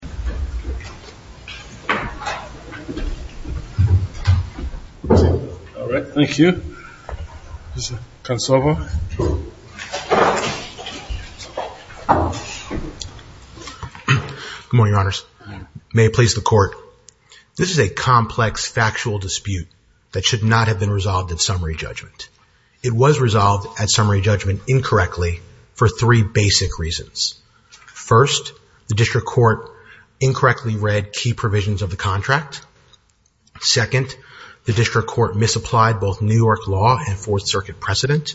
Good morning, Your Honors. May it please the Court, this is a complex factual dispute that should not have been resolved at summary judgment. It was resolved at summary judgment incorrectly for three basic reasons. First, the District Court incorrectly read key provisions of the contract. Second, the District Court misapplied both New York law and Fourth Circuit precedent.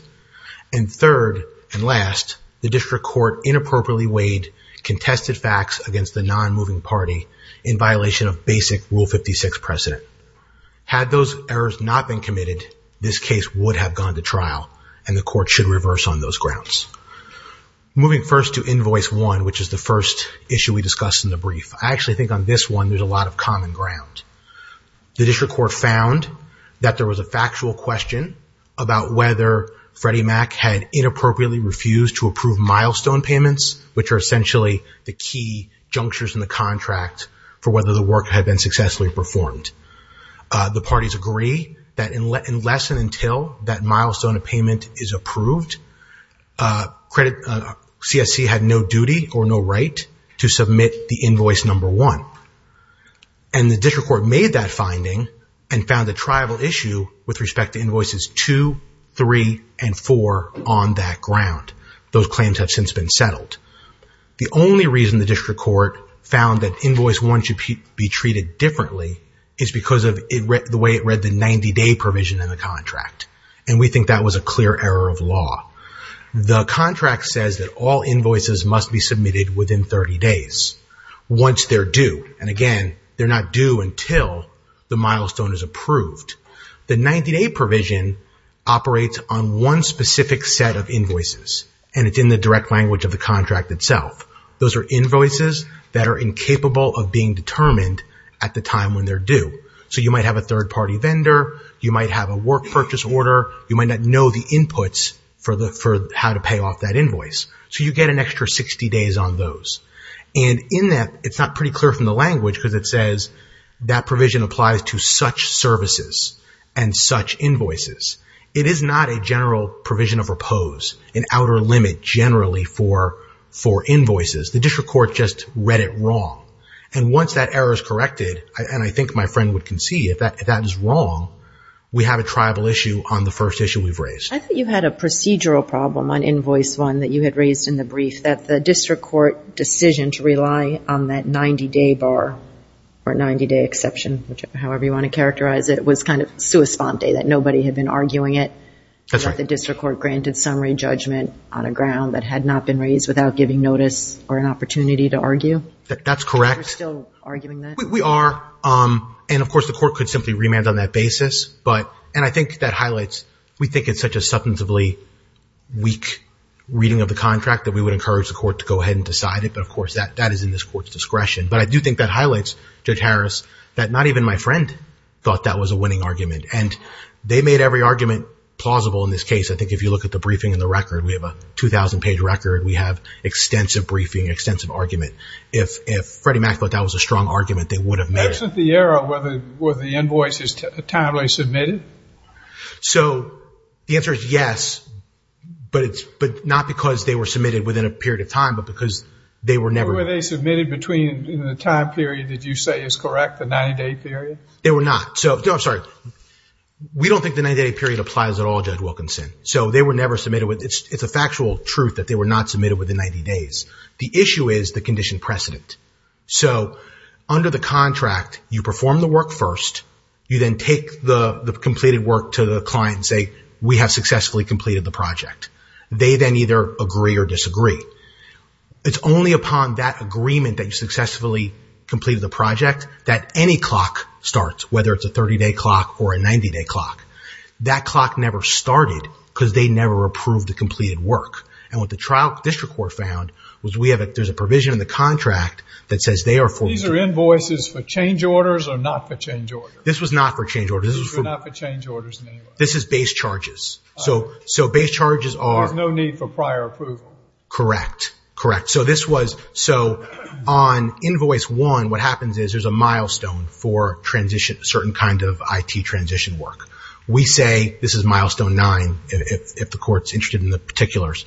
And third and last, the District Court inappropriately weighed contested facts against the non-moving party in violation of basic Rule 56 precedent. Had those errors not been committed, this case would have gone to trial and the Court should reverse on those grounds. Moving first to Invoice 1, which is the first issue we discussed in the brief. I actually think on this one there's a lot of common ground. The District Court found that there was a factual question about whether Freddie Mac had inappropriately refused to approve milestone payments, which are essentially the key junctures in the contract for whether the work had been successfully performed. The parties agree that unless and until that milestone of payment is credited, CSC had no duty or no right to submit the Invoice 1. And the District Court made that finding and found a tribal issue with respect to Invoices 2, 3, and 4 on that ground. Those claims have since been settled. The only reason the District Court found that Invoice 1 should be treated differently is because of the way it read the 90-day provision in the contract. And we think that was a clear error of law. The contract says that all invoices must be submitted within 30 days, once they're due. And again, they're not due until the milestone is approved. The 90-day provision operates on one specific set of invoices, and it's in the direct language of the contract itself. Those are invoices that are incapable of being determined at the time when they're due. So you might have a third-party vendor, you might have a work purchase order, you might not know the inputs for how to pay off that invoice. So you get an extra 60 days on those. And in that, it's not pretty clear from the language because it says that provision applies to such services and such invoices. It is not a general provision of repose, an outer limit generally for invoices. The District Court just read it wrong. And once that error is corrected, and I think my friend would concede if that is wrong, we have a tribal issue on the first issue we've raised. I think you had a procedural problem on Invoice 1 that you had raised in the brief, that the District Court decision to rely on that 90-day bar or 90-day exception, however you want to characterize it, was kind of sua sponte, that nobody had been arguing it. That's right. That the District Court granted summary judgment on a ground that had not been raised without giving notice or an opportunity to argue. That's correct. We're still arguing that? We are. And of course, the court could simply remand on that basis. And I think that highlights, we think it's such a substantively weak reading of the contract that we would encourage the court to go ahead and decide it. But of course, that is in this court's discretion. But I do think that highlights, Judge Harris, that not even my friend thought that was a winning argument. And they made every argument plausible in this case. I think if you look at the briefing and the record, we have a 2,000-page record. We have extensive briefing, extensive argument. If Freddie Mac thought that was a strong argument, they would have made it. Isn't the error whether the invoice is timely submitted? So the answer is yes. But not because they were submitted within a period of time, but because they were never. Were they submitted in the time period that you say is correct, the 90-day period? They were not. No, I'm sorry. We don't think the 90-day period applies at all, Judge Wilkinson. So they were never submitted. It's a factual truth that they were not submitted within 90 days. The issue is the condition precedent. So under the contract, you perform the work first. You then take the completed work to the client and say, we have successfully completed the project. They then either agree or disagree. It's only upon that agreement that you successfully completed the project that any clock starts, whether it's a 30-day clock or a 90-day clock. That clock never started because they never approved the completed work. And what the trial district court found was there's a provision in the contract that says they are for- These are invoices for change orders or not for change orders? This was not for change orders. This was not for change orders in any way? This is base charges. So base charges are- There's no need for prior approval. Correct. Correct. So on invoice one, what happens is there's a milestone for a certain kind of IT transition work. We say this is milestone nine if the court's interested in the particulars.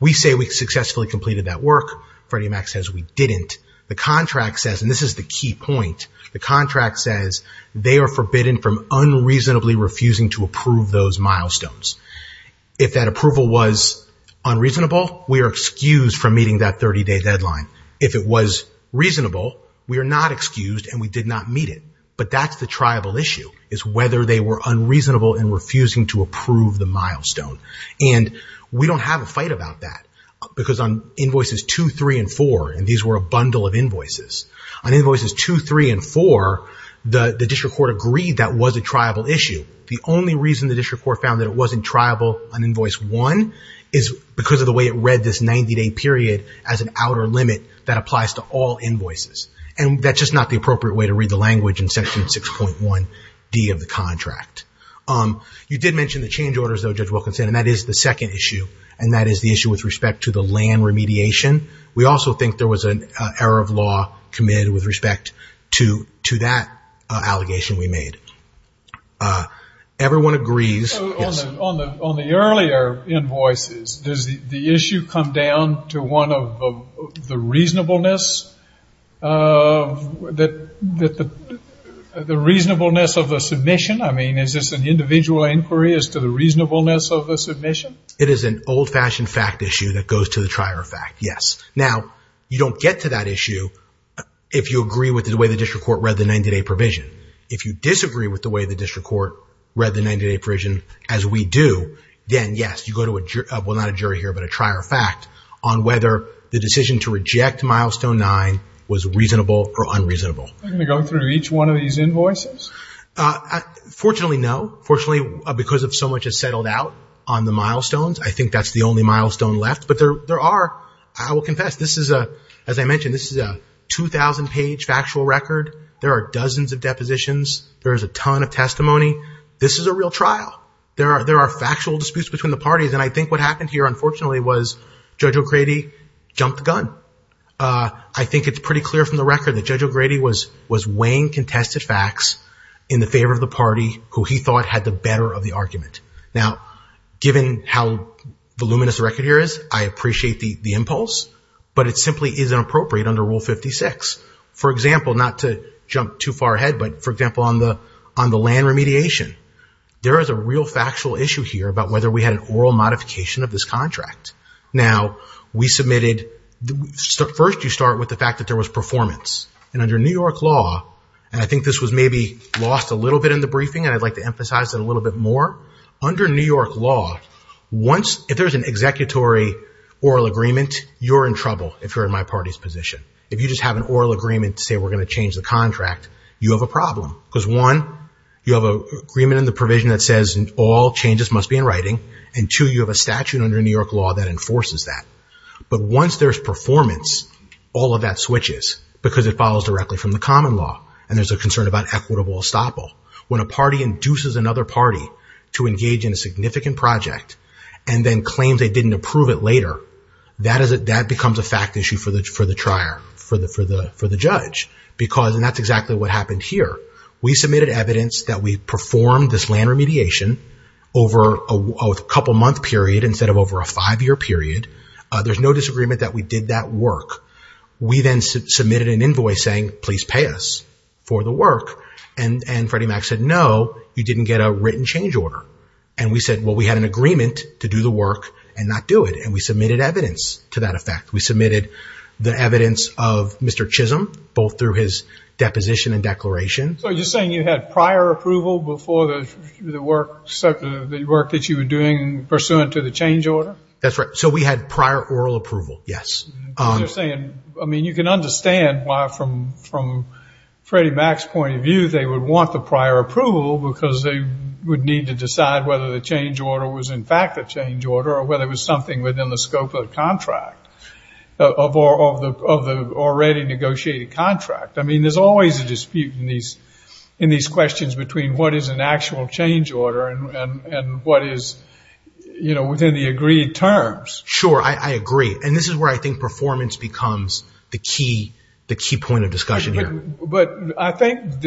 We say we successfully completed that work. Freddie Mac says we didn't. The contract says, and this is the key point, the contract says they are forbidden from unreasonably refusing to approve those milestones. If that approval was unreasonable, we are excused from meeting that 30-day deadline. If it was reasonable, we are not excused and we did not meet it. But that's the triable issue is whether they were unreasonable and refusing to approve the milestone. And we don't have a fight about that because on invoices two, three, and four, and these were a bundle of invoices, on invoices two, three, and four, the district court agreed that was a triable issue. The only reason the district court found that it wasn't triable on invoice one is because of the way it read this 90-day period as an outer limit that applies to all invoices. And that's just not the appropriate way to read the language in section 6.1D of the contract. You did mention the change orders, though, Judge Wilkinson, and that is the second issue. And that is the issue with respect to the land remediation. We also think there was an error of law committed with respect to that allegation we made. Everyone agrees. On the earlier invoices, does the issue come down to one of the reasonableness of the submission? I mean, is this an individual inquiry as to the reasonableness of the submission? It is an old-fashioned fact issue that goes to the trier of fact, yes. Now, you don't get to that issue if you agree with the way the district court read the 90-day provision. If you disagree with the way the district court read the 90-day provision, as we do, then, yes, you go to a jury, well, not a jury here, but a trier of fact on whether the decision to reject milestone nine was reasonable or unreasonable. Can we go through each one of these invoices? Fortunately, no. Fortunately, because of so much has settled out on the milestones, I think that's the only milestone left. But there are, I will confess, this is, as I mentioned, this is a 2,000-page factual record. There are dozens of depositions. There is a ton of testimony. This is a real trial. There are factual disputes between the parties. And I think what happened here, unfortunately, was Judge O'Grady jumped the gun. I think it's pretty clear from the record that Judge O'Grady was weighing contested facts in the favor of the party who he thought had the better of the argument. Now, given how voluminous the record here is, I appreciate the impulse, but it simply isn't appropriate under Rule 56. For example, not to jump too far ahead, but for example, on the land remediation, there is a real factual issue here about whether we had an oral modification of this contract. Now, we submitted, first you start with the fact that there was performance. And under New York law, and I think this was maybe lost a little bit in the briefing, and I'd like to emphasize it a little bit more. Under New York law, if there's an executory oral agreement, you're in trouble if you're in my party's position. If you just have an oral agreement to say, we're going to change the contract, you have a problem. Because one, you have an agreement in the provision that says, all changes must be in writing. And two, you have a statute under New York law that enforces that. But once there's performance, all of that switches, because it follows directly from the common law. And there's a concern about equitable estoppel. When a party induces another party to engage in a significant project, and then claims they didn't approve it later, that becomes a fact issue for the judge. And that's exactly what happened here. We submitted evidence that we performed this land remediation over a couple-month period instead of over a five-year period. There's no disagreement that we did that work. We then submitted an invoice saying, please pay us for the work. And Freddie Mac said, no, you didn't get a written change order. And we said, well, we had an agreement to do the work and not do it. And we submitted evidence to that effect. We submitted the evidence of Mr. Chisholm, both through his deposition and declaration. So you're saying you had prior approval before the work that you were doing pursuant to the change order? That's right. So we had prior oral approval, yes. I mean, you can understand why, from Freddie Mac's point of view, they would want the prior approval because they would need to decide whether the change order was in fact a change order or whether it was something within the scope of the contract, of the already negotiated contract. I mean, there's always a dispute in these questions between what is an actual change order and what is within the agreed terms. Sure, I agree. And this is where I think performance becomes the key point of discussion here. But I think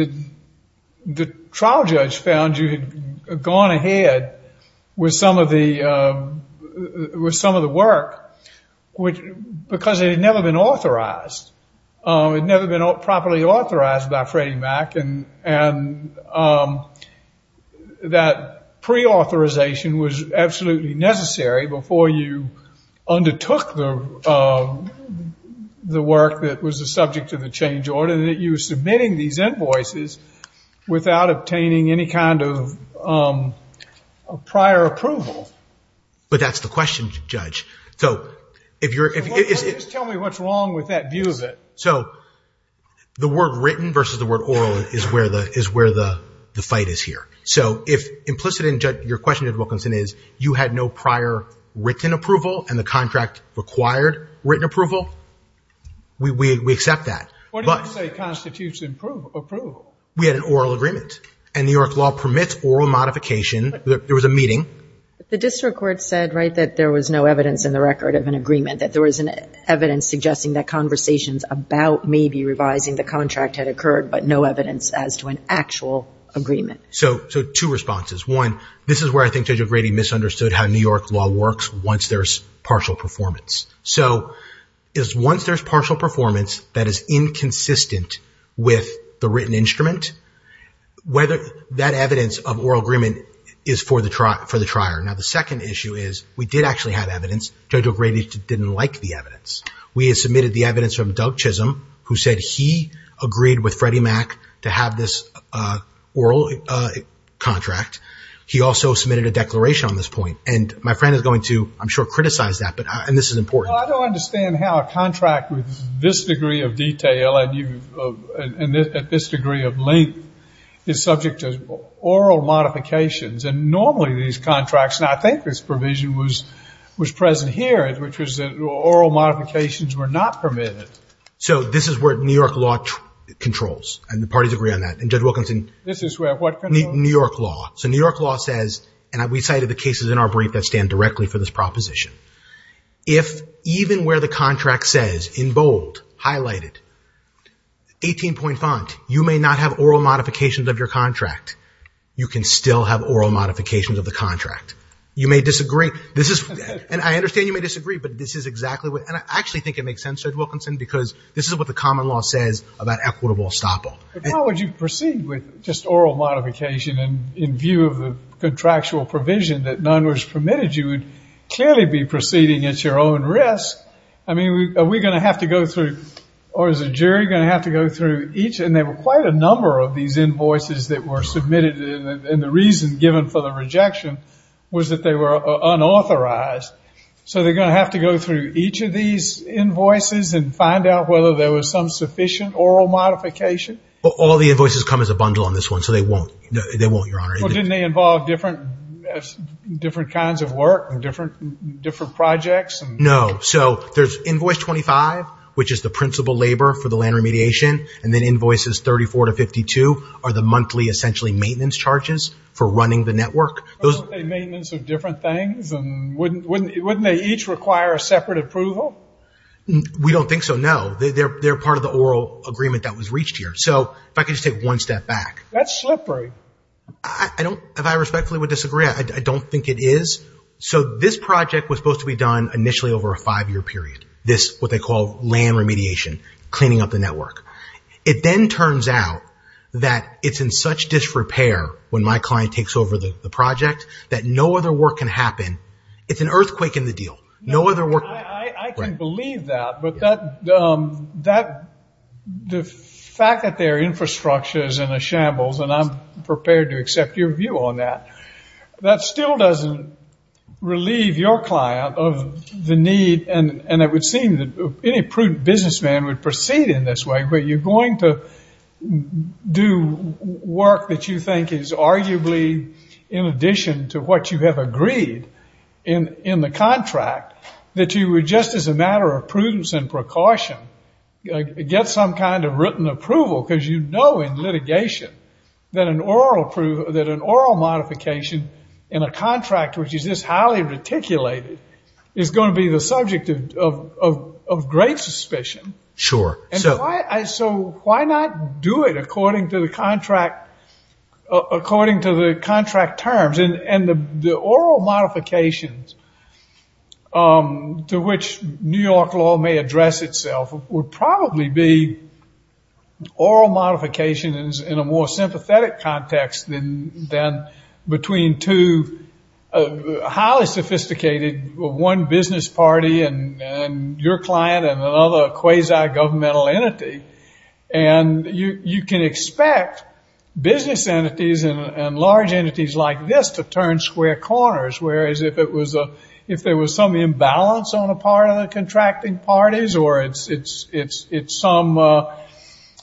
the trial judge found you had gone ahead with some of the work because it had never been authorized. It had never been properly authorized by Freddie Mac. And that pre-authorization was absolutely necessary before you undertook the work that was the subject of the change order. And that you were submitting these invoices without obtaining any kind of prior approval. But that's the question, Judge. So if you're... Well, just tell me what's wrong with that view of it. So the word written versus the word oral is where the fight is here. So if implicit in your question, Judge Wilkinson, is you had no prior written approval and the contract required written approval, we accept that. What do you say constitutes approval? We had an oral agreement. And New York law permits oral modification. There was a meeting. The district court said, right, that there was no evidence in the record of an agreement, that there was evidence suggesting that conversations about maybe revising the contract had occurred, but no evidence as to an actual agreement. So two responses. One, this is where I think Judge O'Grady misunderstood how New York law works once there's partial performance. So is once there's partial performance that is inconsistent with the written instrument, whether that evidence of oral agreement is for the trier. Now, the second issue is we did actually have evidence. Judge O'Grady didn't like the evidence. We had submitted the evidence from Doug Chisholm, who said he agreed with Freddie Mac to have this oral contract. He also submitted a declaration on this point. And my friend is going to, I'm sure, criticize that. And this is important. Well, I don't understand how a contract with this degree of detail and at this degree of length is subject to oral modifications. And normally these contracts, and I think this provision was present here, which was that oral modifications were not permitted. So this is where New York law controls. And the parties agree on that. And Judge Wilkinson... This is where what controls? New York law. So New York law says, and we cited the cases in our brief that stand directly for this proposition. If even where the contract says in bold, highlighted, 18 point font, you may not have oral modifications of your contract, you can still have oral modifications of the contract. You may disagree. This is... And I understand you may disagree, but this is exactly what... And I actually think it makes sense, Judge Wilkinson, because this is what the common law says about equitable estoppel. How would you proceed with just oral modification and in view of the contractual provision that none was permitted, you would clearly be proceeding at your own risk. I mean, are we going to have to go through, or is the jury going to have to go through each? And there were quite a number of these invoices that were submitted. And the reason given for the rejection was that they were unauthorized. So they're going to have to go through each of these invoices and find out whether there was some sufficient oral modification. All the invoices come as a bundle on this one. So they won't. They won't, Your Honor. Didn't they involve different kinds of work and different projects? No. So there's Invoice 25, which is the principal labor for the land remediation. And then Invoices 34 to 52 are the monthly, essentially, maintenance charges for running the network. Aren't they maintenance of different things? Wouldn't they each require a separate approval? We don't think so, no. They're part of the oral agreement that was reached here. So if I could just take one step back. That's slippery. If I respectfully would disagree, I don't think it is. So this project was supposed to be done initially over a five-year period. This, what they call, land remediation. Cleaning up the network. It then turns out that it's in such disrepair when my client takes over the project that no other work can happen. It's an earthquake in the deal. No other work. I can believe that. But the fact that their infrastructure is in a shambles, and I'm prepared to accept your view on that, that still doesn't relieve your client of the need. And it would seem that any prudent businessman would proceed in this way. But you're going to do work that you think is arguably, in addition to what you have agreed in the contract, that you would, just as a matter of prudence and precaution, get some kind of written approval. Because you know in litigation that an oral modification in a contract which is this highly reticulated is going to be the subject of great suspicion. So why not do it according to the contract terms? And the oral modifications to which New York law may address itself would probably be oral modifications in a more sympathetic context than between two highly sophisticated, one business party and your client and another quasi-governmental entity. And you can expect business entities and large entities like this to turn square corners. Whereas if there was some imbalance on a part of the contracting parties or it's some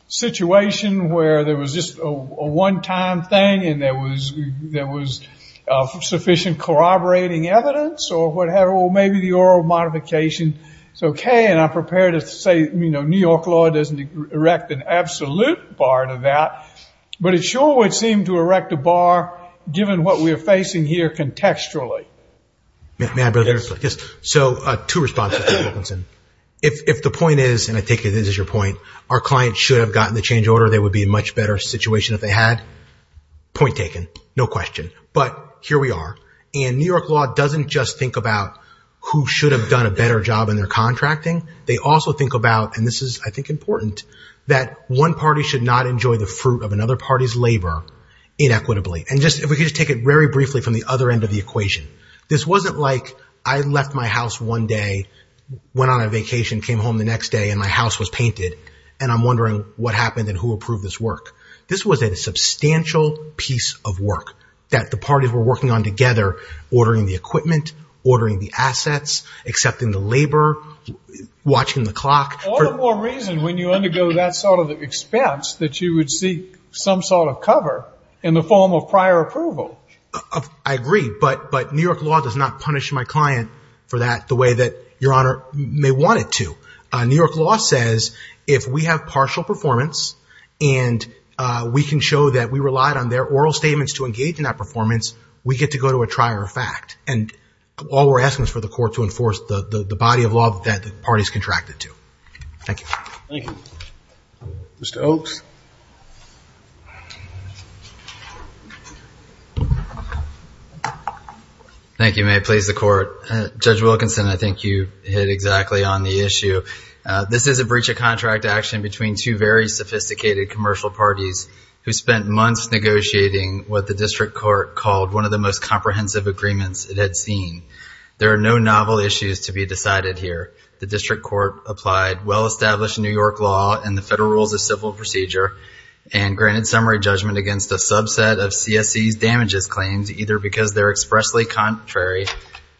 situation where there was just a one-time thing and there was sufficient corroborating evidence or whatever, well, maybe the oral modification is OK. And I'm prepared to say New York law doesn't erect an absolute bar to that. But it sure would seem to erect a bar given what we are facing here contextually. May I briefly? Yes. So two responses, Mr. Wilkinson. If the point is, and I take it this is your point, our client should have gotten the change order, they would be in a much better situation if they had. Point taken. No question. But here we are. And New York law doesn't just think about who should have done a better job in their contracting. They also think about, and this is I think important, that one party should not enjoy the fruit of another party's labor inequitably. And if we could just take it very briefly from the other end of the equation. This wasn't like I left my house one day, went on a vacation, came home the next day and my house was painted. And I'm wondering what happened and who approved this work. This was a substantial piece of work that the parties were working on together, ordering the equipment, ordering the assets, accepting the labor, watching the clock. All the more reason when you undergo that sort of expense that you would seek some sort of cover in the form of prior approval. I agree. But New York law does not punish my client for that the way that Your Honor may want it to. New York law says if we have partial performance and we can show that we relied on their oral statements to engage in that performance, we get to go to a trier of fact. And all we're asking is for the court to enforce the body of law that the parties contracted to. Thank you. Thank you. Mr. Oaks. Thank you. May it please the court. Judge Wilkinson, I think you hit exactly on the issue. This is a breach of contract action between two very sophisticated commercial parties who spent months negotiating what the district court called one of the most comprehensive agreements it had seen. There are no novel issues to be decided here. The district court applied well-established New York law and the federal rules of civil procedure and granted summary judgment against a subset of CSC's damages claims either because they're expressly contrary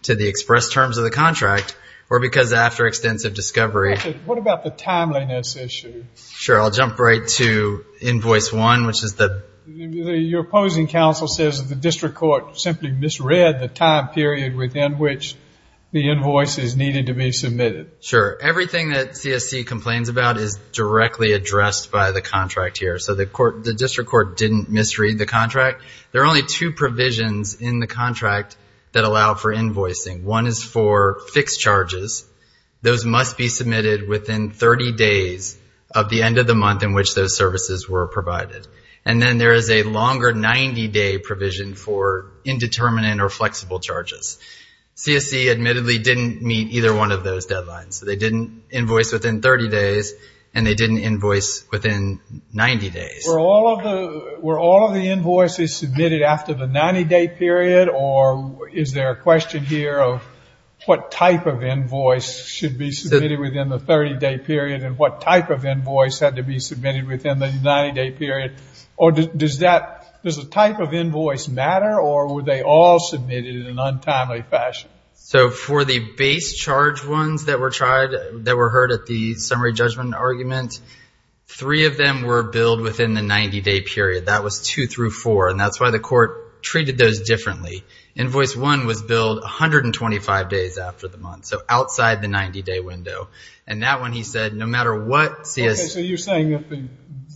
to the express terms of the contract or because after extensive discovery... What about the timeliness issue? Sure. I'll jump right to invoice one, which is the... Your opposing counsel says the district court simply misread the time period within which the invoice is needed to be submitted. Sure. Everything that CSC complains about is directly addressed by the contract here. So the district court didn't misread the contract. There are only two provisions in the contract that allow for invoicing. One is for fixed charges. Those must be submitted within 30 days of the end of the month in which those services were provided. And then there is a longer 90-day provision for indeterminate or flexible charges. CSC admittedly didn't meet either one of those deadlines. They didn't invoice within 30 days and they didn't invoice within 90 days. Were all of the invoices submitted after the 90-day period or is there a question here of what type of invoice should be submitted within the 30-day period and what type of invoice had to be submitted within the 90-day period? Or does the type of invoice matter or were they all submitted in an untimely fashion? So for the base charge ones that were tried, that were heard at the summary judgment argument, three of them were billed within the 90-day period. That was two through four. And that's why the court treated those differently. Invoice one was billed 125 days after the month. So outside the 90-day window. And that one, he said, no matter what CSC... So you're saying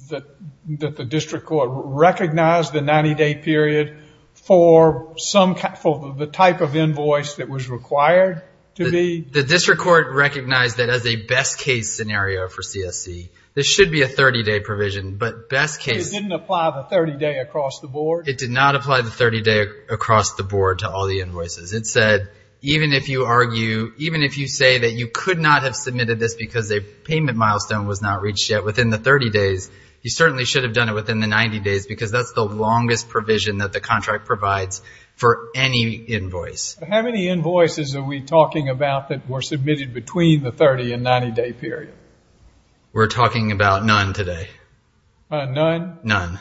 that the district court recognized the 90-day period for the type of invoice that was required to be... The district court recognized that as a best case scenario for CSC. This should be a 30-day provision, but best case... It didn't apply the 30-day across the board? It did not apply the 30-day across the board to all the invoices. It said, even if you argue, even if you say that you could not have submitted this because a payment milestone was not reached yet within the 30 days, you certainly should have done it within the 90 days because that's the longest provision that the contract provides for any invoice. How many invoices are we talking about that were submitted between the 30 and 90-day period? We're talking about none today. None? None.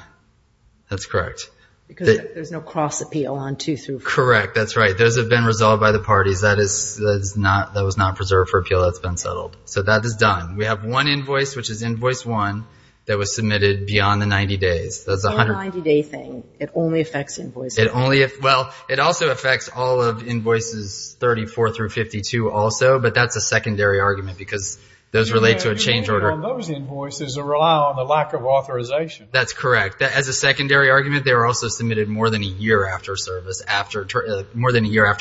That's correct. Because there's no cross appeal on two through four. Correct. That's right. Those have been resolved by the parties. That was not preserved for appeal. That's been settled. So that is done. We have one invoice, which is invoice one, that was submitted beyond the 90 days. The whole 90-day thing, it only affects invoice one. Well, it also affects all of invoices 34 through 52 also, but that's a secondary argument because those relate to a change order. Those invoices rely on the lack of authorization. That's correct. As a secondary argument, they were also submitted more than a year after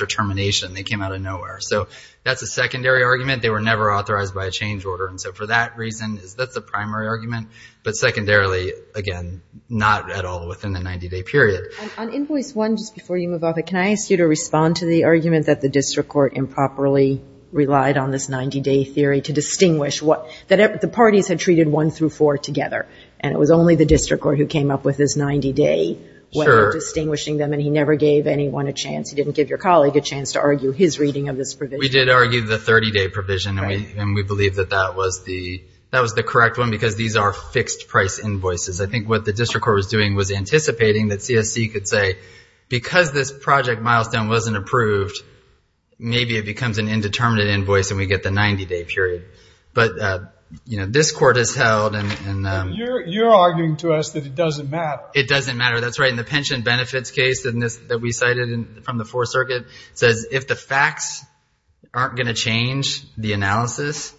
termination. They came out of nowhere. So that's a secondary argument. They were never authorized by a change order. And so for that reason, that's the primary argument. But secondarily, again, not at all within the 90-day period. On invoice one, just before you move on, can I ask you to respond to the argument that the district court improperly relied on this 90-day theory to distinguish that the parties had treated one through four together, and it was only the district court who came up with this 90-day when distinguishing them, and he never gave anyone a chance. He didn't give your colleague a chance to argue his reading of this provision. We did argue the 30-day provision, and we believe that that was the correct one because these are fixed-price invoices. I think what the district court was doing was anticipating that CSC could say, because this project milestone wasn't approved, maybe it becomes an indeterminate invoice, and we get the 90-day period. But, you know, this court has held. And you're arguing to us that it doesn't matter. It doesn't matter. That's right. And the pension benefits case that we cited from the Fourth Circuit says if the facts aren't going to change the analysis,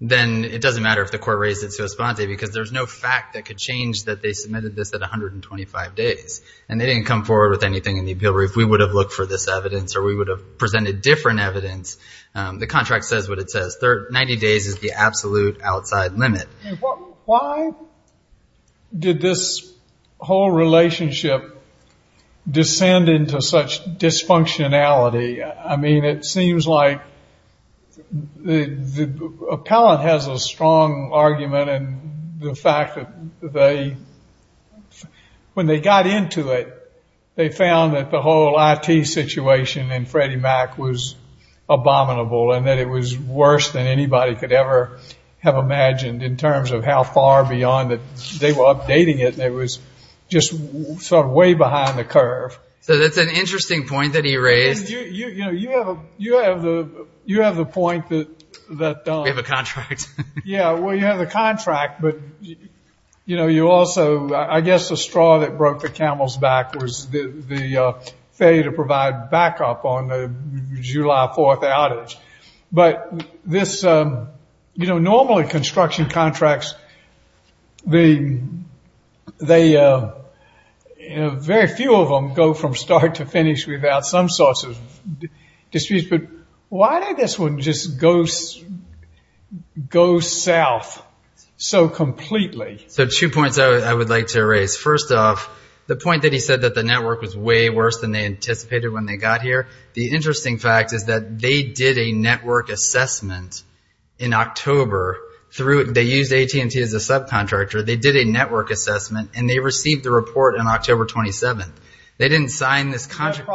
then it doesn't matter if the court raised it so spontaneously because there's no fact that could change that they submitted this at 125 days. And they didn't come forward with anything in the appeal brief. We would have looked for this evidence or we would have presented different evidence. The contract says what it says. 90 days is the absolute outside limit. Why did this whole relationship descend into such dysfunctionality? I mean, it seems like the appellant has a strong argument in the fact that when they got into it, they found that the whole IT situation in Freddie Mac was abominable and that it was worse than anybody could ever have imagined in terms of how far beyond that they were updating it. And it was just sort of way behind the curve. So that's an interesting point that he raised. You know, you have the point that... We have a contract. Yeah, well, you have the contract, but, you know, you also, I guess, the straw that broke the camel's back was the failure to provide backup on the July 4th outage. But this, you know, normally construction contracts, they, very few of them go from start to finish without some sorts of disputes. But why did this one just go south so completely? So two points I would like to raise. First off, the point that he said that the network was way worse than they anticipated when they got here. The interesting fact is that they did a network assessment in October. They used AT&T as a subcontractor. They did a network assessment and they received the report on October 27th. They didn't sign this contract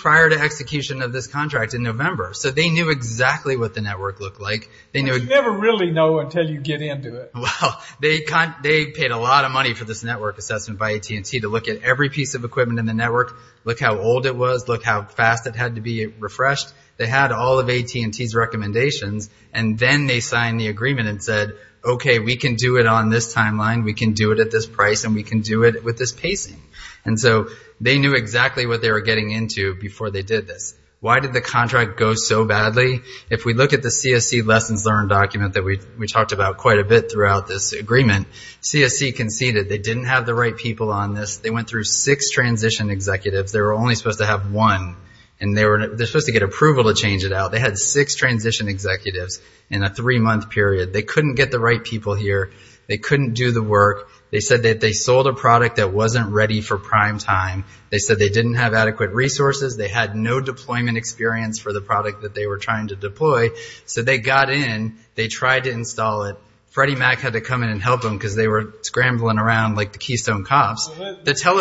prior to execution of this contract in November. So they knew exactly what the network looked like. They never really know until you get into it. Well, they paid a lot of money for this network assessment by AT&T to look at every piece of equipment in the network, look how old it was, look how fast it had to be refreshed. They had all of AT&T's recommendations and then they signed the agreement and said, OK, we can do it on this timeline. We can do it at this price and we can do it with this pacing. And so they knew exactly what they were getting into before they did this. Why did the contract go so badly? If we look at the CSC lessons learned document that we talked about quite a bit throughout this agreement, CSC conceded they didn't have the right people on this. They went through six transition executives. They were only supposed to have one and they were supposed to get approval to change it out. They had six transition executives in a three-month period. They couldn't get the right people here. They couldn't do the work. They said that they sold a product that wasn't ready for prime time. They said they didn't have adequate resources. They had no deployment experience for the product that they were trying to deploy. So they got in. They tried to install it. Freddie Mac had to come in and help them because they were scrambling around like the Keystone cops. You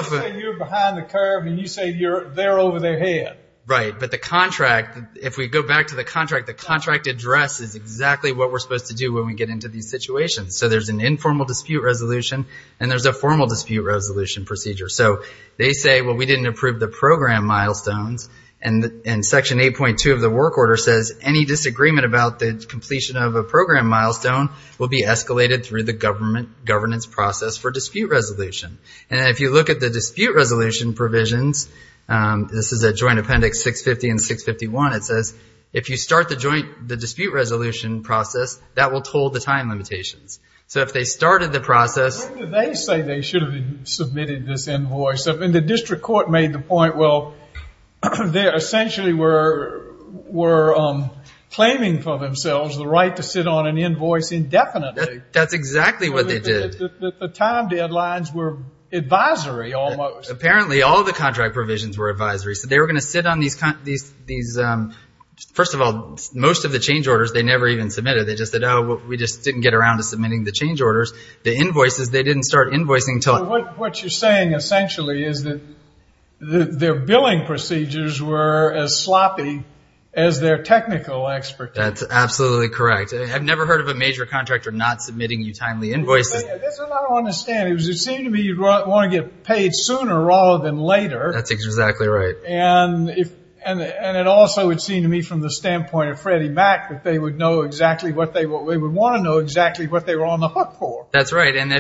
say you're behind the curve and you say they're over their head. Right, but the contract, if we go back to the contract, the contract address is exactly what we're supposed to do when we get into these situations. So there's an informal dispute resolution and there's a formal dispute resolution procedure. So they say, well, we didn't approve the program milestones and section 8.2 of the work order says any disagreement about the completion of a program milestone will be escalated through the governance process for dispute resolution. And if you look at the dispute resolution provisions, this is a joint appendix 650 and 651, it says if you start the dispute resolution process, that will toll the time limitations. So if they started the process... When did they say they should have submitted this invoice? And the district court made the point, well, they essentially were claiming for themselves the right to sit on an invoice indefinitely. That's exactly what they did. The time deadlines were advisory almost. Apparently all the contract provisions were advisory. So they were going to sit on these, first of all, most of the change orders, they never even submitted. We just didn't get around to submitting the change orders. The invoices, they didn't start invoicing until... What you're saying essentially is that their billing procedures were as sloppy as their technical expertise. That's absolutely correct. I've never heard of a major contractor not submitting you timely invoices. That's what I don't understand. It seemed to me you'd want to get paid sooner rather than later. That's exactly right. And it also would seem to me from the standpoint of Freddie Mac that they would want to know exactly what they were on the hook for. That's right. And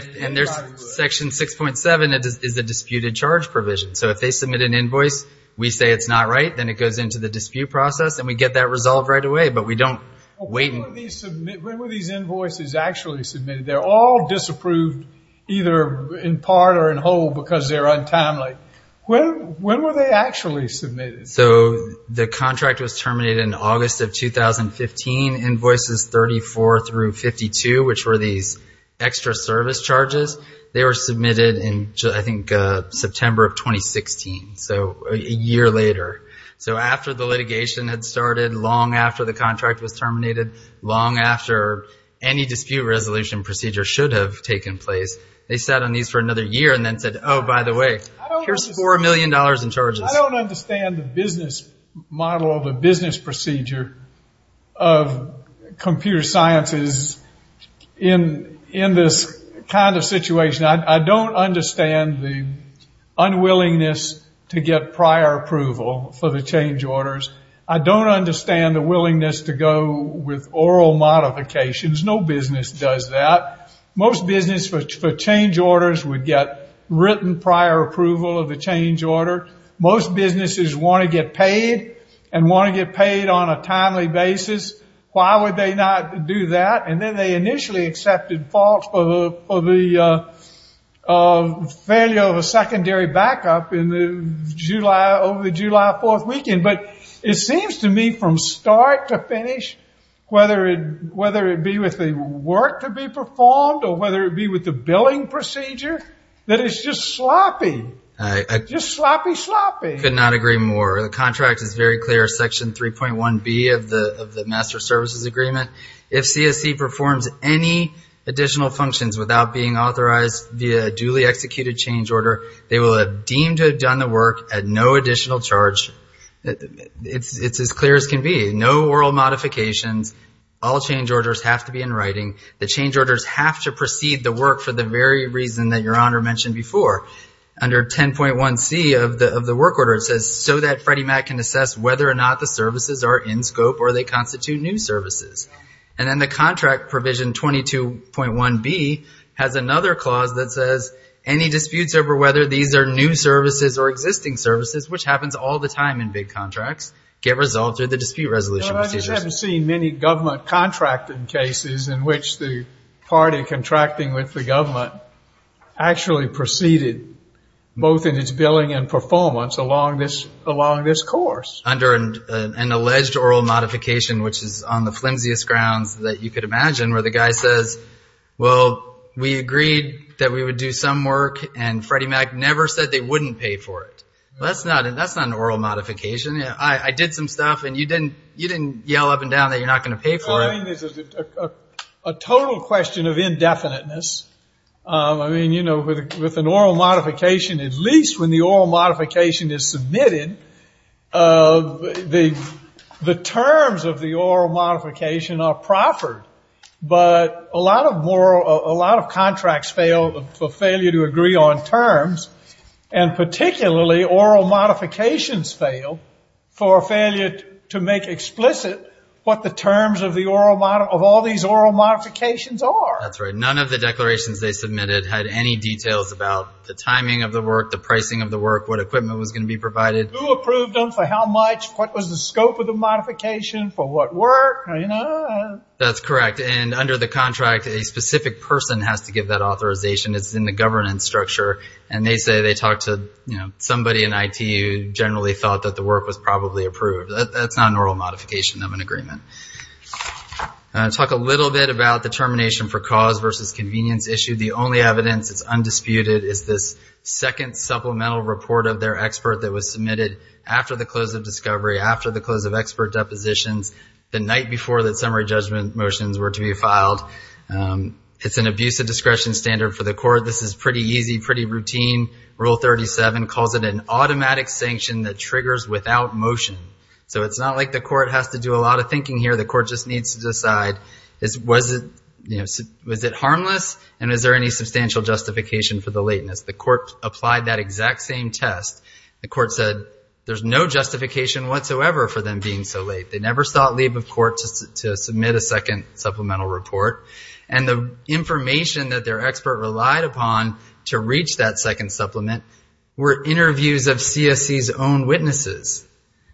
section 6.7 is a disputed charge provision. So if they submit an invoice, we say it's not right, then it goes into the dispute process and we get that resolved right away. But we don't wait... When were these invoices actually submitted? They're all disapproved either in part or in whole because they're untimely. When were they actually submitted? So the contract was terminated in August of 2015. Invoices 34 through 52, which were these extra service charges, they were submitted in, I think, September of 2016. So a year later. So after the litigation had started, long after the contract was terminated, long after any dispute resolution procedure should have taken place, they sat on these for another year and then said, oh, by the way, here's $4 million in charges. I don't understand the business model or the business procedure of computer sciences in this kind of situation. I don't understand the unwillingness to get prior approval for the change orders. I don't understand the willingness to go with oral modifications. No business does that. Most business for change orders would get written prior approval of the change order. Most businesses want to get paid and want to get paid on a timely basis. Why would they not do that? And then they initially accepted faults for the failure of a secondary backup in the July, over the July 4th weekend. But it seems to me from start to finish, whether it be with the work to be performed or whether it be with the billing procedure, that it's just sloppy. Just sloppy, sloppy. Could not agree more. The contract is very clear. Section 3.1b of the Master Services Agreement. If CSC performs any additional functions without being authorized via a duly executed change order, they will have deemed to have done the work at no additional charge. It's as clear as can be. No oral modifications. All change orders have to be in writing. The change orders have to proceed the work for the very reason that your honor mentioned before. Under 10.1c of the work order, it says, so that Freddie Mac can assess whether or not the services are in scope or they constitute new services. And then the contract provision 22.1b has another clause that says, any disputes over whether these are new services or existing services, which happens all the time in big contracts, get resolved through the dispute resolution procedures. I just haven't seen many government contracting cases in which the party contracting with the government actually proceeded both in its billing and performance along this course. Under an alleged oral modification, which is on the flimsiest grounds that you could imagine, where the guy says, well, we agreed that we would do some work and Freddie Mac never said they wouldn't pay for it. That's not an oral modification. I did some stuff and you didn't yell up and down that you're not going to pay for it. I think this is a total question of indefiniteness. I mean, you know, with an oral modification, at least when the oral modification is submitted, the terms of the oral modification are proffered, but a lot of contracts fail for failure to agree on terms and particularly oral modifications fail for failure to make explicit what the terms of all these oral modifications are. None of the declarations they submitted had any details about the timing of the work, the pricing of the work, what equipment was going to be provided. Who approved them, for how much, what was the scope of the modification, for what work? That's correct. And under the contract, a specific person has to give that authorization. It's in the governance structure. And they say they talked to somebody in IT who generally thought that the work was probably approved. That's not an oral modification of an agreement. I want to talk a little bit about the termination for cause versus convenience issue. The only evidence, it's undisputed, is this second supplemental report of their expert that was submitted after the close of discovery, after the close of expert depositions, the night before the summary judgment motions were to be filed. It's an abuse of discretion standard for the court. This is pretty easy, pretty routine. Rule 37 calls it an automatic sanction that triggers without motion. So it's not like the court has to do a lot of thinking here. The court just needs to decide, was it harmless? And is there any substantial justification for the lateness? The court applied that exact same test. The court said there's no justification whatsoever for them being so late. They never sought leave of court to submit a second supplemental report. And the information that their expert relied upon to reach that second supplement were interviews of CSE's own witnesses.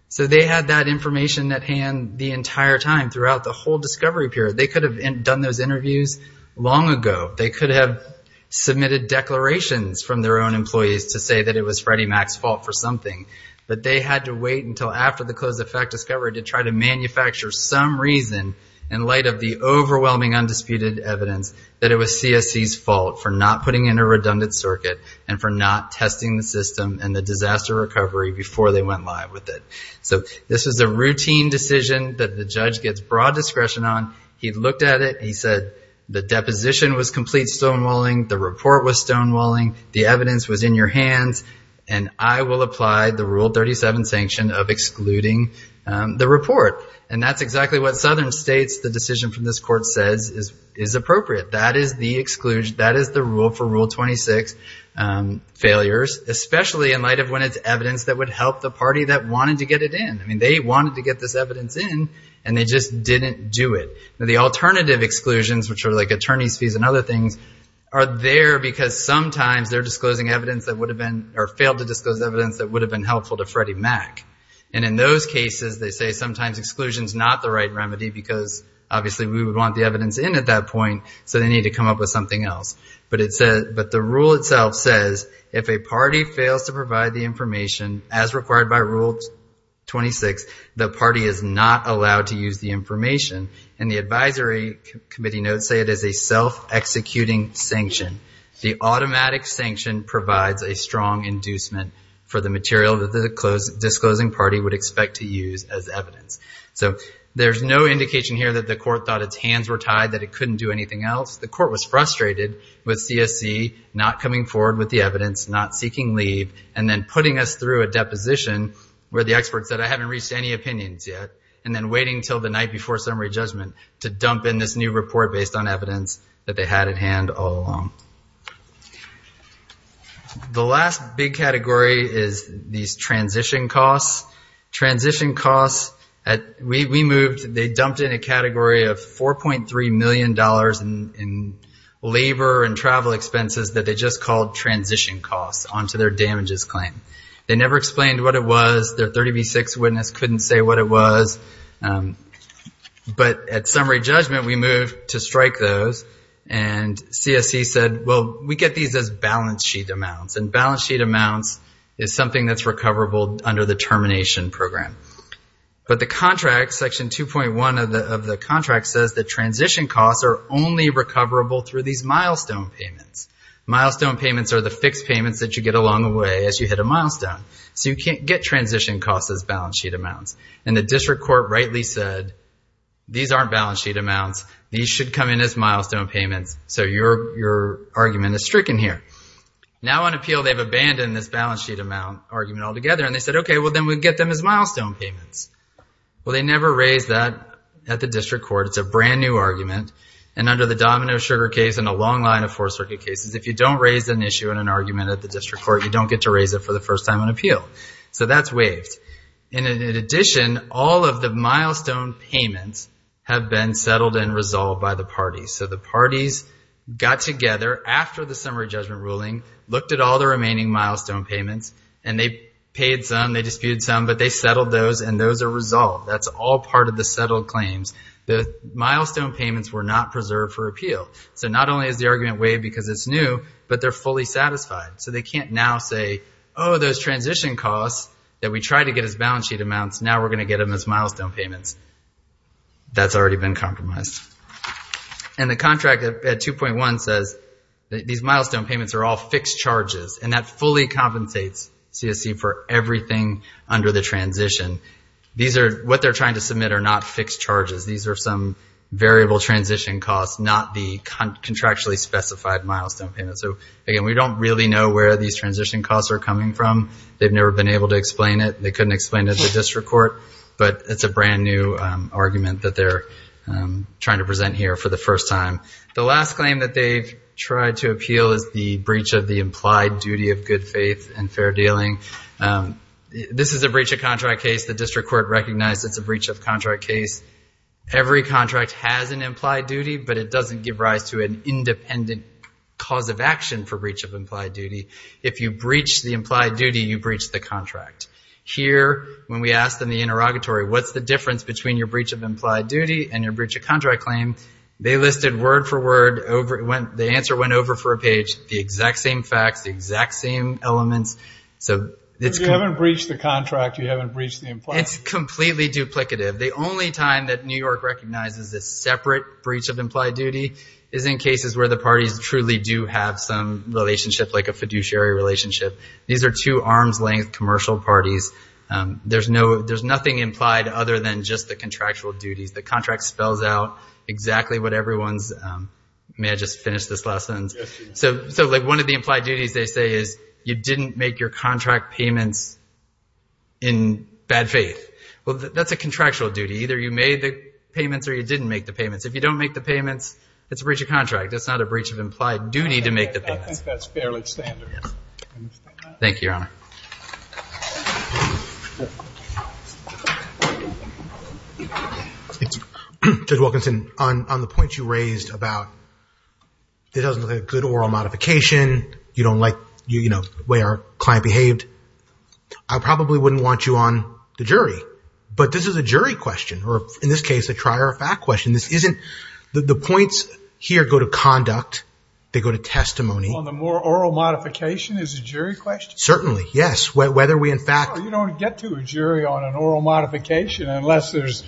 So they had that information at hand the entire time, throughout the whole discovery period. They could have done those interviews long ago. They could have submitted declarations from their own employees to say that it was Freddie Mac's fault for something. But they had to wait until after the close of fact discovery to try to manufacture some reason in light of the overwhelming undisputed evidence that it was CSE's fault for not putting in a redundant circuit and for not testing the system and the disaster recovery before they went live with it. So this was a routine decision that the judge gets broad discretion on. He looked at it. He said the deposition was complete stonewalling. The report was stonewalling. The evidence was in your hands. And I will apply the Rule 37 sanction of excluding the report. And that's exactly what Southern states the decision from this court says is appropriate. That is the exclusion. That is the rule for Rule 26 failures, especially in light of when it's evidence that would help the party that wanted to get it in. I mean, they wanted to get this evidence in and they just didn't do it. The alternative exclusions, which are like attorney's fees and other things, are there because sometimes they're disclosing evidence that would have been or failed to disclose evidence that would have been helpful to Freddie Mac. And in those cases, they say sometimes exclusion's not the right remedy because obviously we would want the evidence in at that point. So they need to come up with something else. But the rule itself says if a party fails to provide the information as required by Rule 26, the party is not allowed to use the information. And the advisory committee notes say it is a self-executing sanction. The automatic sanction provides a strong inducement for the material that the disclosing party would expect to use as evidence. So there's no indication here that the court thought its hands were tied, that it couldn't do anything else. The court was frustrated with CSC not coming forward with the evidence, not seeking leave, and then putting us through a deposition where the expert said I haven't reached any opinions yet, and then waiting till the night before summary judgment to dump in this new report based on evidence that they had at hand all along. The last big category is these transition costs. Transition costs, we moved, they dumped in a category of $4.3 million in labor and travel expenses that they just called transition costs onto their damages claim. They never explained what it was. Their 30B6 witness couldn't say what it was. But at summary judgment, we moved to strike those. And CSC said, well, we get these as balance sheet amounts. And balance sheet amounts is something that's recoverable under the termination program. But the contract, section 2.1 of the contract says that transition costs are only recoverable through these milestone payments. Milestone payments are the fixed payments that you get along the way as you hit a milestone. So you can't get transition costs as balance sheet amounts. And the district court rightly said, these aren't balance sheet amounts. These should come in as milestone payments. So your argument is stricken here. Now on appeal, they've abandoned this balance sheet amount argument altogether. And they said, OK, well, then we get them as milestone payments. Well, they never raised that at the district court. It's a brand new argument. And under the Domino Sugar case and a long line of Fourth Circuit cases, if you don't raise an issue in an argument at the district court, you don't get to raise it for the first time on appeal. So that's waived. And in addition, all of the milestone payments have been settled and resolved by the parties. So the parties got together after the summary judgment ruling, looked at all the remaining milestone payments, and they paid some, they disputed some, but they settled those and those are resolved. That's all part of the settled claims. The milestone payments were not preserved for appeal. So not only is the argument waived because it's new, but they're fully satisfied. So they can't now say, oh, those transition costs that we tried to get as balance sheet amounts, now we're going to get them as milestone payments. That's already been compromised. And the contract at 2.1 says these milestone payments are all fixed charges and that fully compensates CSE for everything under the transition. These are what they're trying to submit are not fixed charges. These are some variable transition costs, not the contractually specified milestone payments. So, again, we don't really know where these transition costs are coming from. They've never been able to explain it. They couldn't explain it to the district court, but it's a brand new argument that they're trying to present here for the first time. The last claim that they've tried to appeal is the breach of the implied duty of good faith and fair dealing. This is a breach of contract case. The district court recognized it's a breach of contract case. Every contract has an implied duty, but it doesn't give rise to an independent cause of action for breach of implied duty. If you breach the implied duty, you breach the contract. Here, when we asked them the interrogatory, what's the difference between your breach of implied duty and your breach of contract claim? They listed word for word over, the answer went over for a page, the exact same facts, the exact same elements. So it's... If you haven't breached the contract, you haven't breached the implied duty. It's completely duplicative. The only time that New York recognizes this separate breach of implied duty is in cases where the parties truly do have some relationship, like a fiduciary relationship. These are two arms length commercial parties. There's nothing implied other than just the contractual duties. The contract spells out exactly what everyone's... May I just finish this last sentence? So like one of the implied duties, they say is, you didn't make your contract payments in bad faith. Well, that's a contractual duty. Either you made the payments or you didn't make the payments. If you don't make the payments, it's a breach of contract. It's not a breach of implied duty to make the payments. I think that's fairly standard. Thank you, Your Honor. Judge Wilkinson, on the point you raised about it doesn't look like a good oral modification. You don't like, you know, the way our client behaved. I probably wouldn't want you on the jury. But this is a jury question, or in this case, a trial or fact question. This isn't... The points here go to conduct. They go to testimony. On the more oral modification is a jury question? Certainly, yes. Whether we in fact... You don't get to a jury on an oral modification unless there's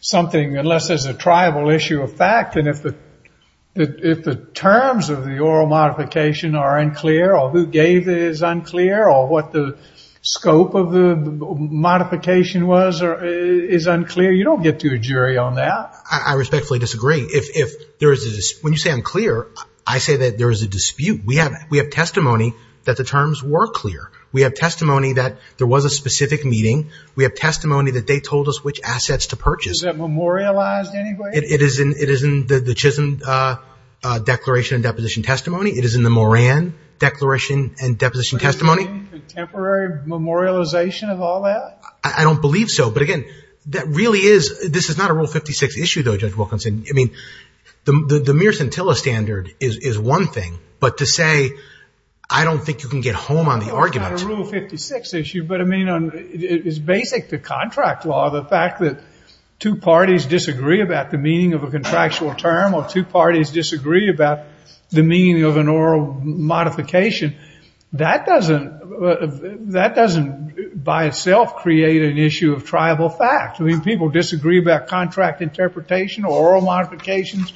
something, unless there's a tribal issue of fact. And if the terms of the oral modification are unclear or who gave it is unclear or what the scope of the modification was is unclear, you don't get to a jury on that. I respectfully disagree. When you say unclear, I say that there is a dispute. We have testimony that the terms were clear. We have testimony that there was a specific meeting. We have testimony that they told us which assets to purchase. Is that memorialized anyway? It is in the Chisholm Declaration and Deposition Testimony. It is in the Moran Declaration and Deposition Testimony. Contemporary memorialization of all that? I don't believe so. But again, that really is... This is not a Rule 56 issue, though, Judge Wilkinson. I mean, the Mearson-Tilla standard is one thing. But to say, I don't think you can get home on the argument. It's not a Rule 56 issue. But I mean, it is basic to contract law, the fact that two parties disagree about the meaning of a contractual term or two parties disagree about the meaning of an oral modification. That doesn't by itself create an issue of tribal fact. I mean, people disagree about contract interpretation or oral modifications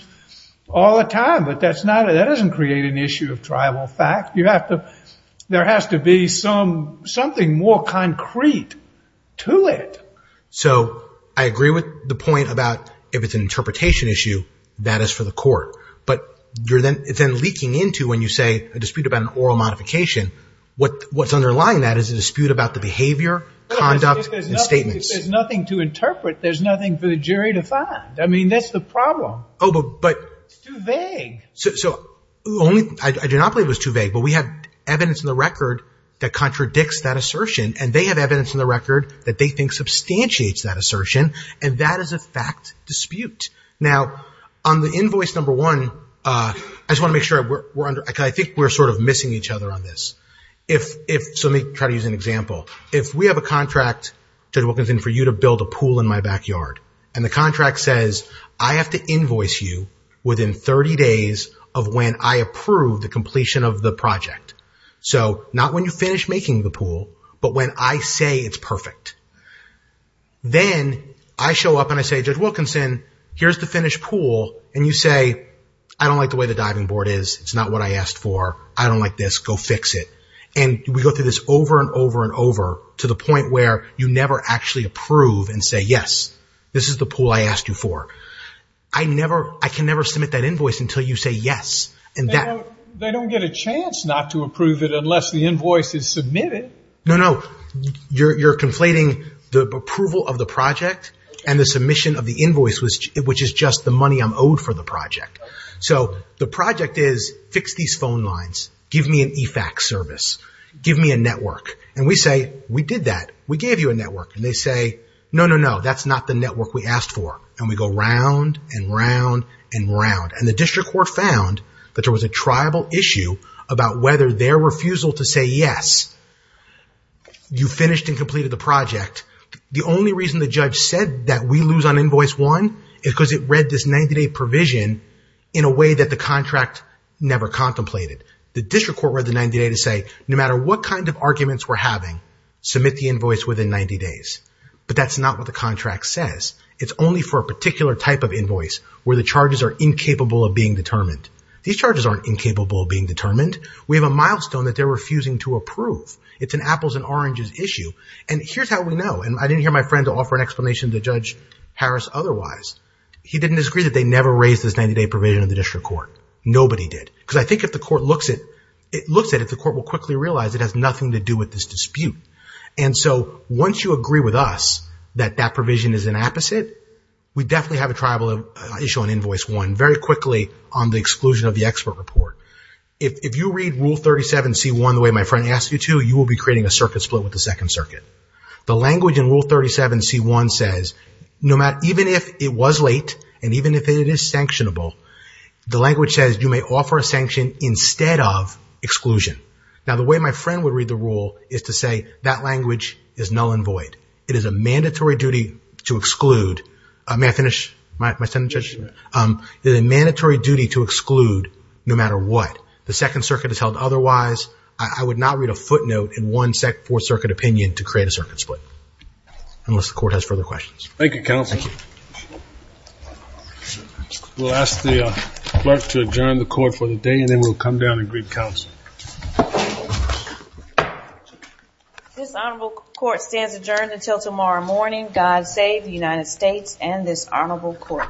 all the time. But that doesn't create an issue of tribal fact. There has to be something more concrete to it. So I agree with the point about if it's an interpretation issue, that is for the court. But you're then leaking into when you say a dispute about an oral modification. What's underlying that is a dispute about the behavior, conduct, and statements. If there's nothing to interpret, there's nothing for the jury to find. I mean, that's the problem. Oh, but... It's too vague. So I do not believe it was too vague. But we have evidence in the record that contradicts that assertion. And they have evidence in the record that they think substantiates that assertion. And that is a fact dispute. Now, on the invoice number one, I just want to make sure we're under... I think we're sort of missing each other on this. So let me try to use an example. If we have a contract, Judge Wilkinson, for you to build a pool in my backyard, and the contract says, I have to invoice you within 30 days of when I approve the completion of the project. So not when you finish making the pool, but when I say it's perfect. Then I show up and I say, Judge Wilkinson, here's the finished pool. And you say, I don't like the way the diving board is. It's not what I asked for. I don't like this. Go fix it. And we go through this over and over and over to the point where you never actually approve and say, yes, this is the pool I asked you for. I can never submit that invoice until you say yes. And they don't get a chance not to approve it unless the invoice is submitted. No, no, you're conflating the approval of the project and the submission of the invoice, which is just the money I'm owed for the project. So the project is fix these phone lines. Give me an e-fax service. Give me a network. And we say, we did that. We gave you a network. And they say, no, no, no, that's not the network we asked for. And we go round and round and round. And the district court found that there was a tribal issue about whether their refusal to say yes, you finished and completed the project. The only reason the judge said that we lose on invoice one is because it read this 90-day provision in a way that the contract never contemplated. The district court read the 90-day to say, no matter what kind of arguments we're having, submit the invoice within 90 days. But that's not what the contract says. It's only for a particular type of invoice where the charges are incapable of being determined. These charges aren't incapable of being determined. We have a milestone that they're refusing to approve. It's an apples and oranges issue. And here's how we know. And I didn't hear my friend offer an explanation to Judge Harris otherwise. He didn't disagree that they never raised this 90-day provision in the district court. Nobody did. Because I think if the court looks at it, the court will quickly realize it has nothing to do with this dispute. And so once you agree with us that that provision is an apposite, we definitely have a tribal issue on invoice one very quickly on the exclusion of the expert report. If you read Rule 37C1 the way my friend asked you to, you will be creating a circuit split with the Second Circuit. The language in Rule 37C1 says, even if it was late and even if it is sanctionable, the language says you may offer a sanction instead of exclusion. Now, the way my friend would read the rule is to say that language is null and void. It is a mandatory duty to exclude. May I finish my sentence, Judge? It is a mandatory duty to exclude no matter what. The Second Circuit has held otherwise. I would not read a footnote in one Fourth Circuit opinion to create a circuit split unless the court has further questions. Thank you, Counsel. We will ask the Clerk to adjourn the Court for the day and then we will come down and greet Counsel. This Honorable Court stands adjourned until tomorrow morning. God save the United States and this Honorable Court.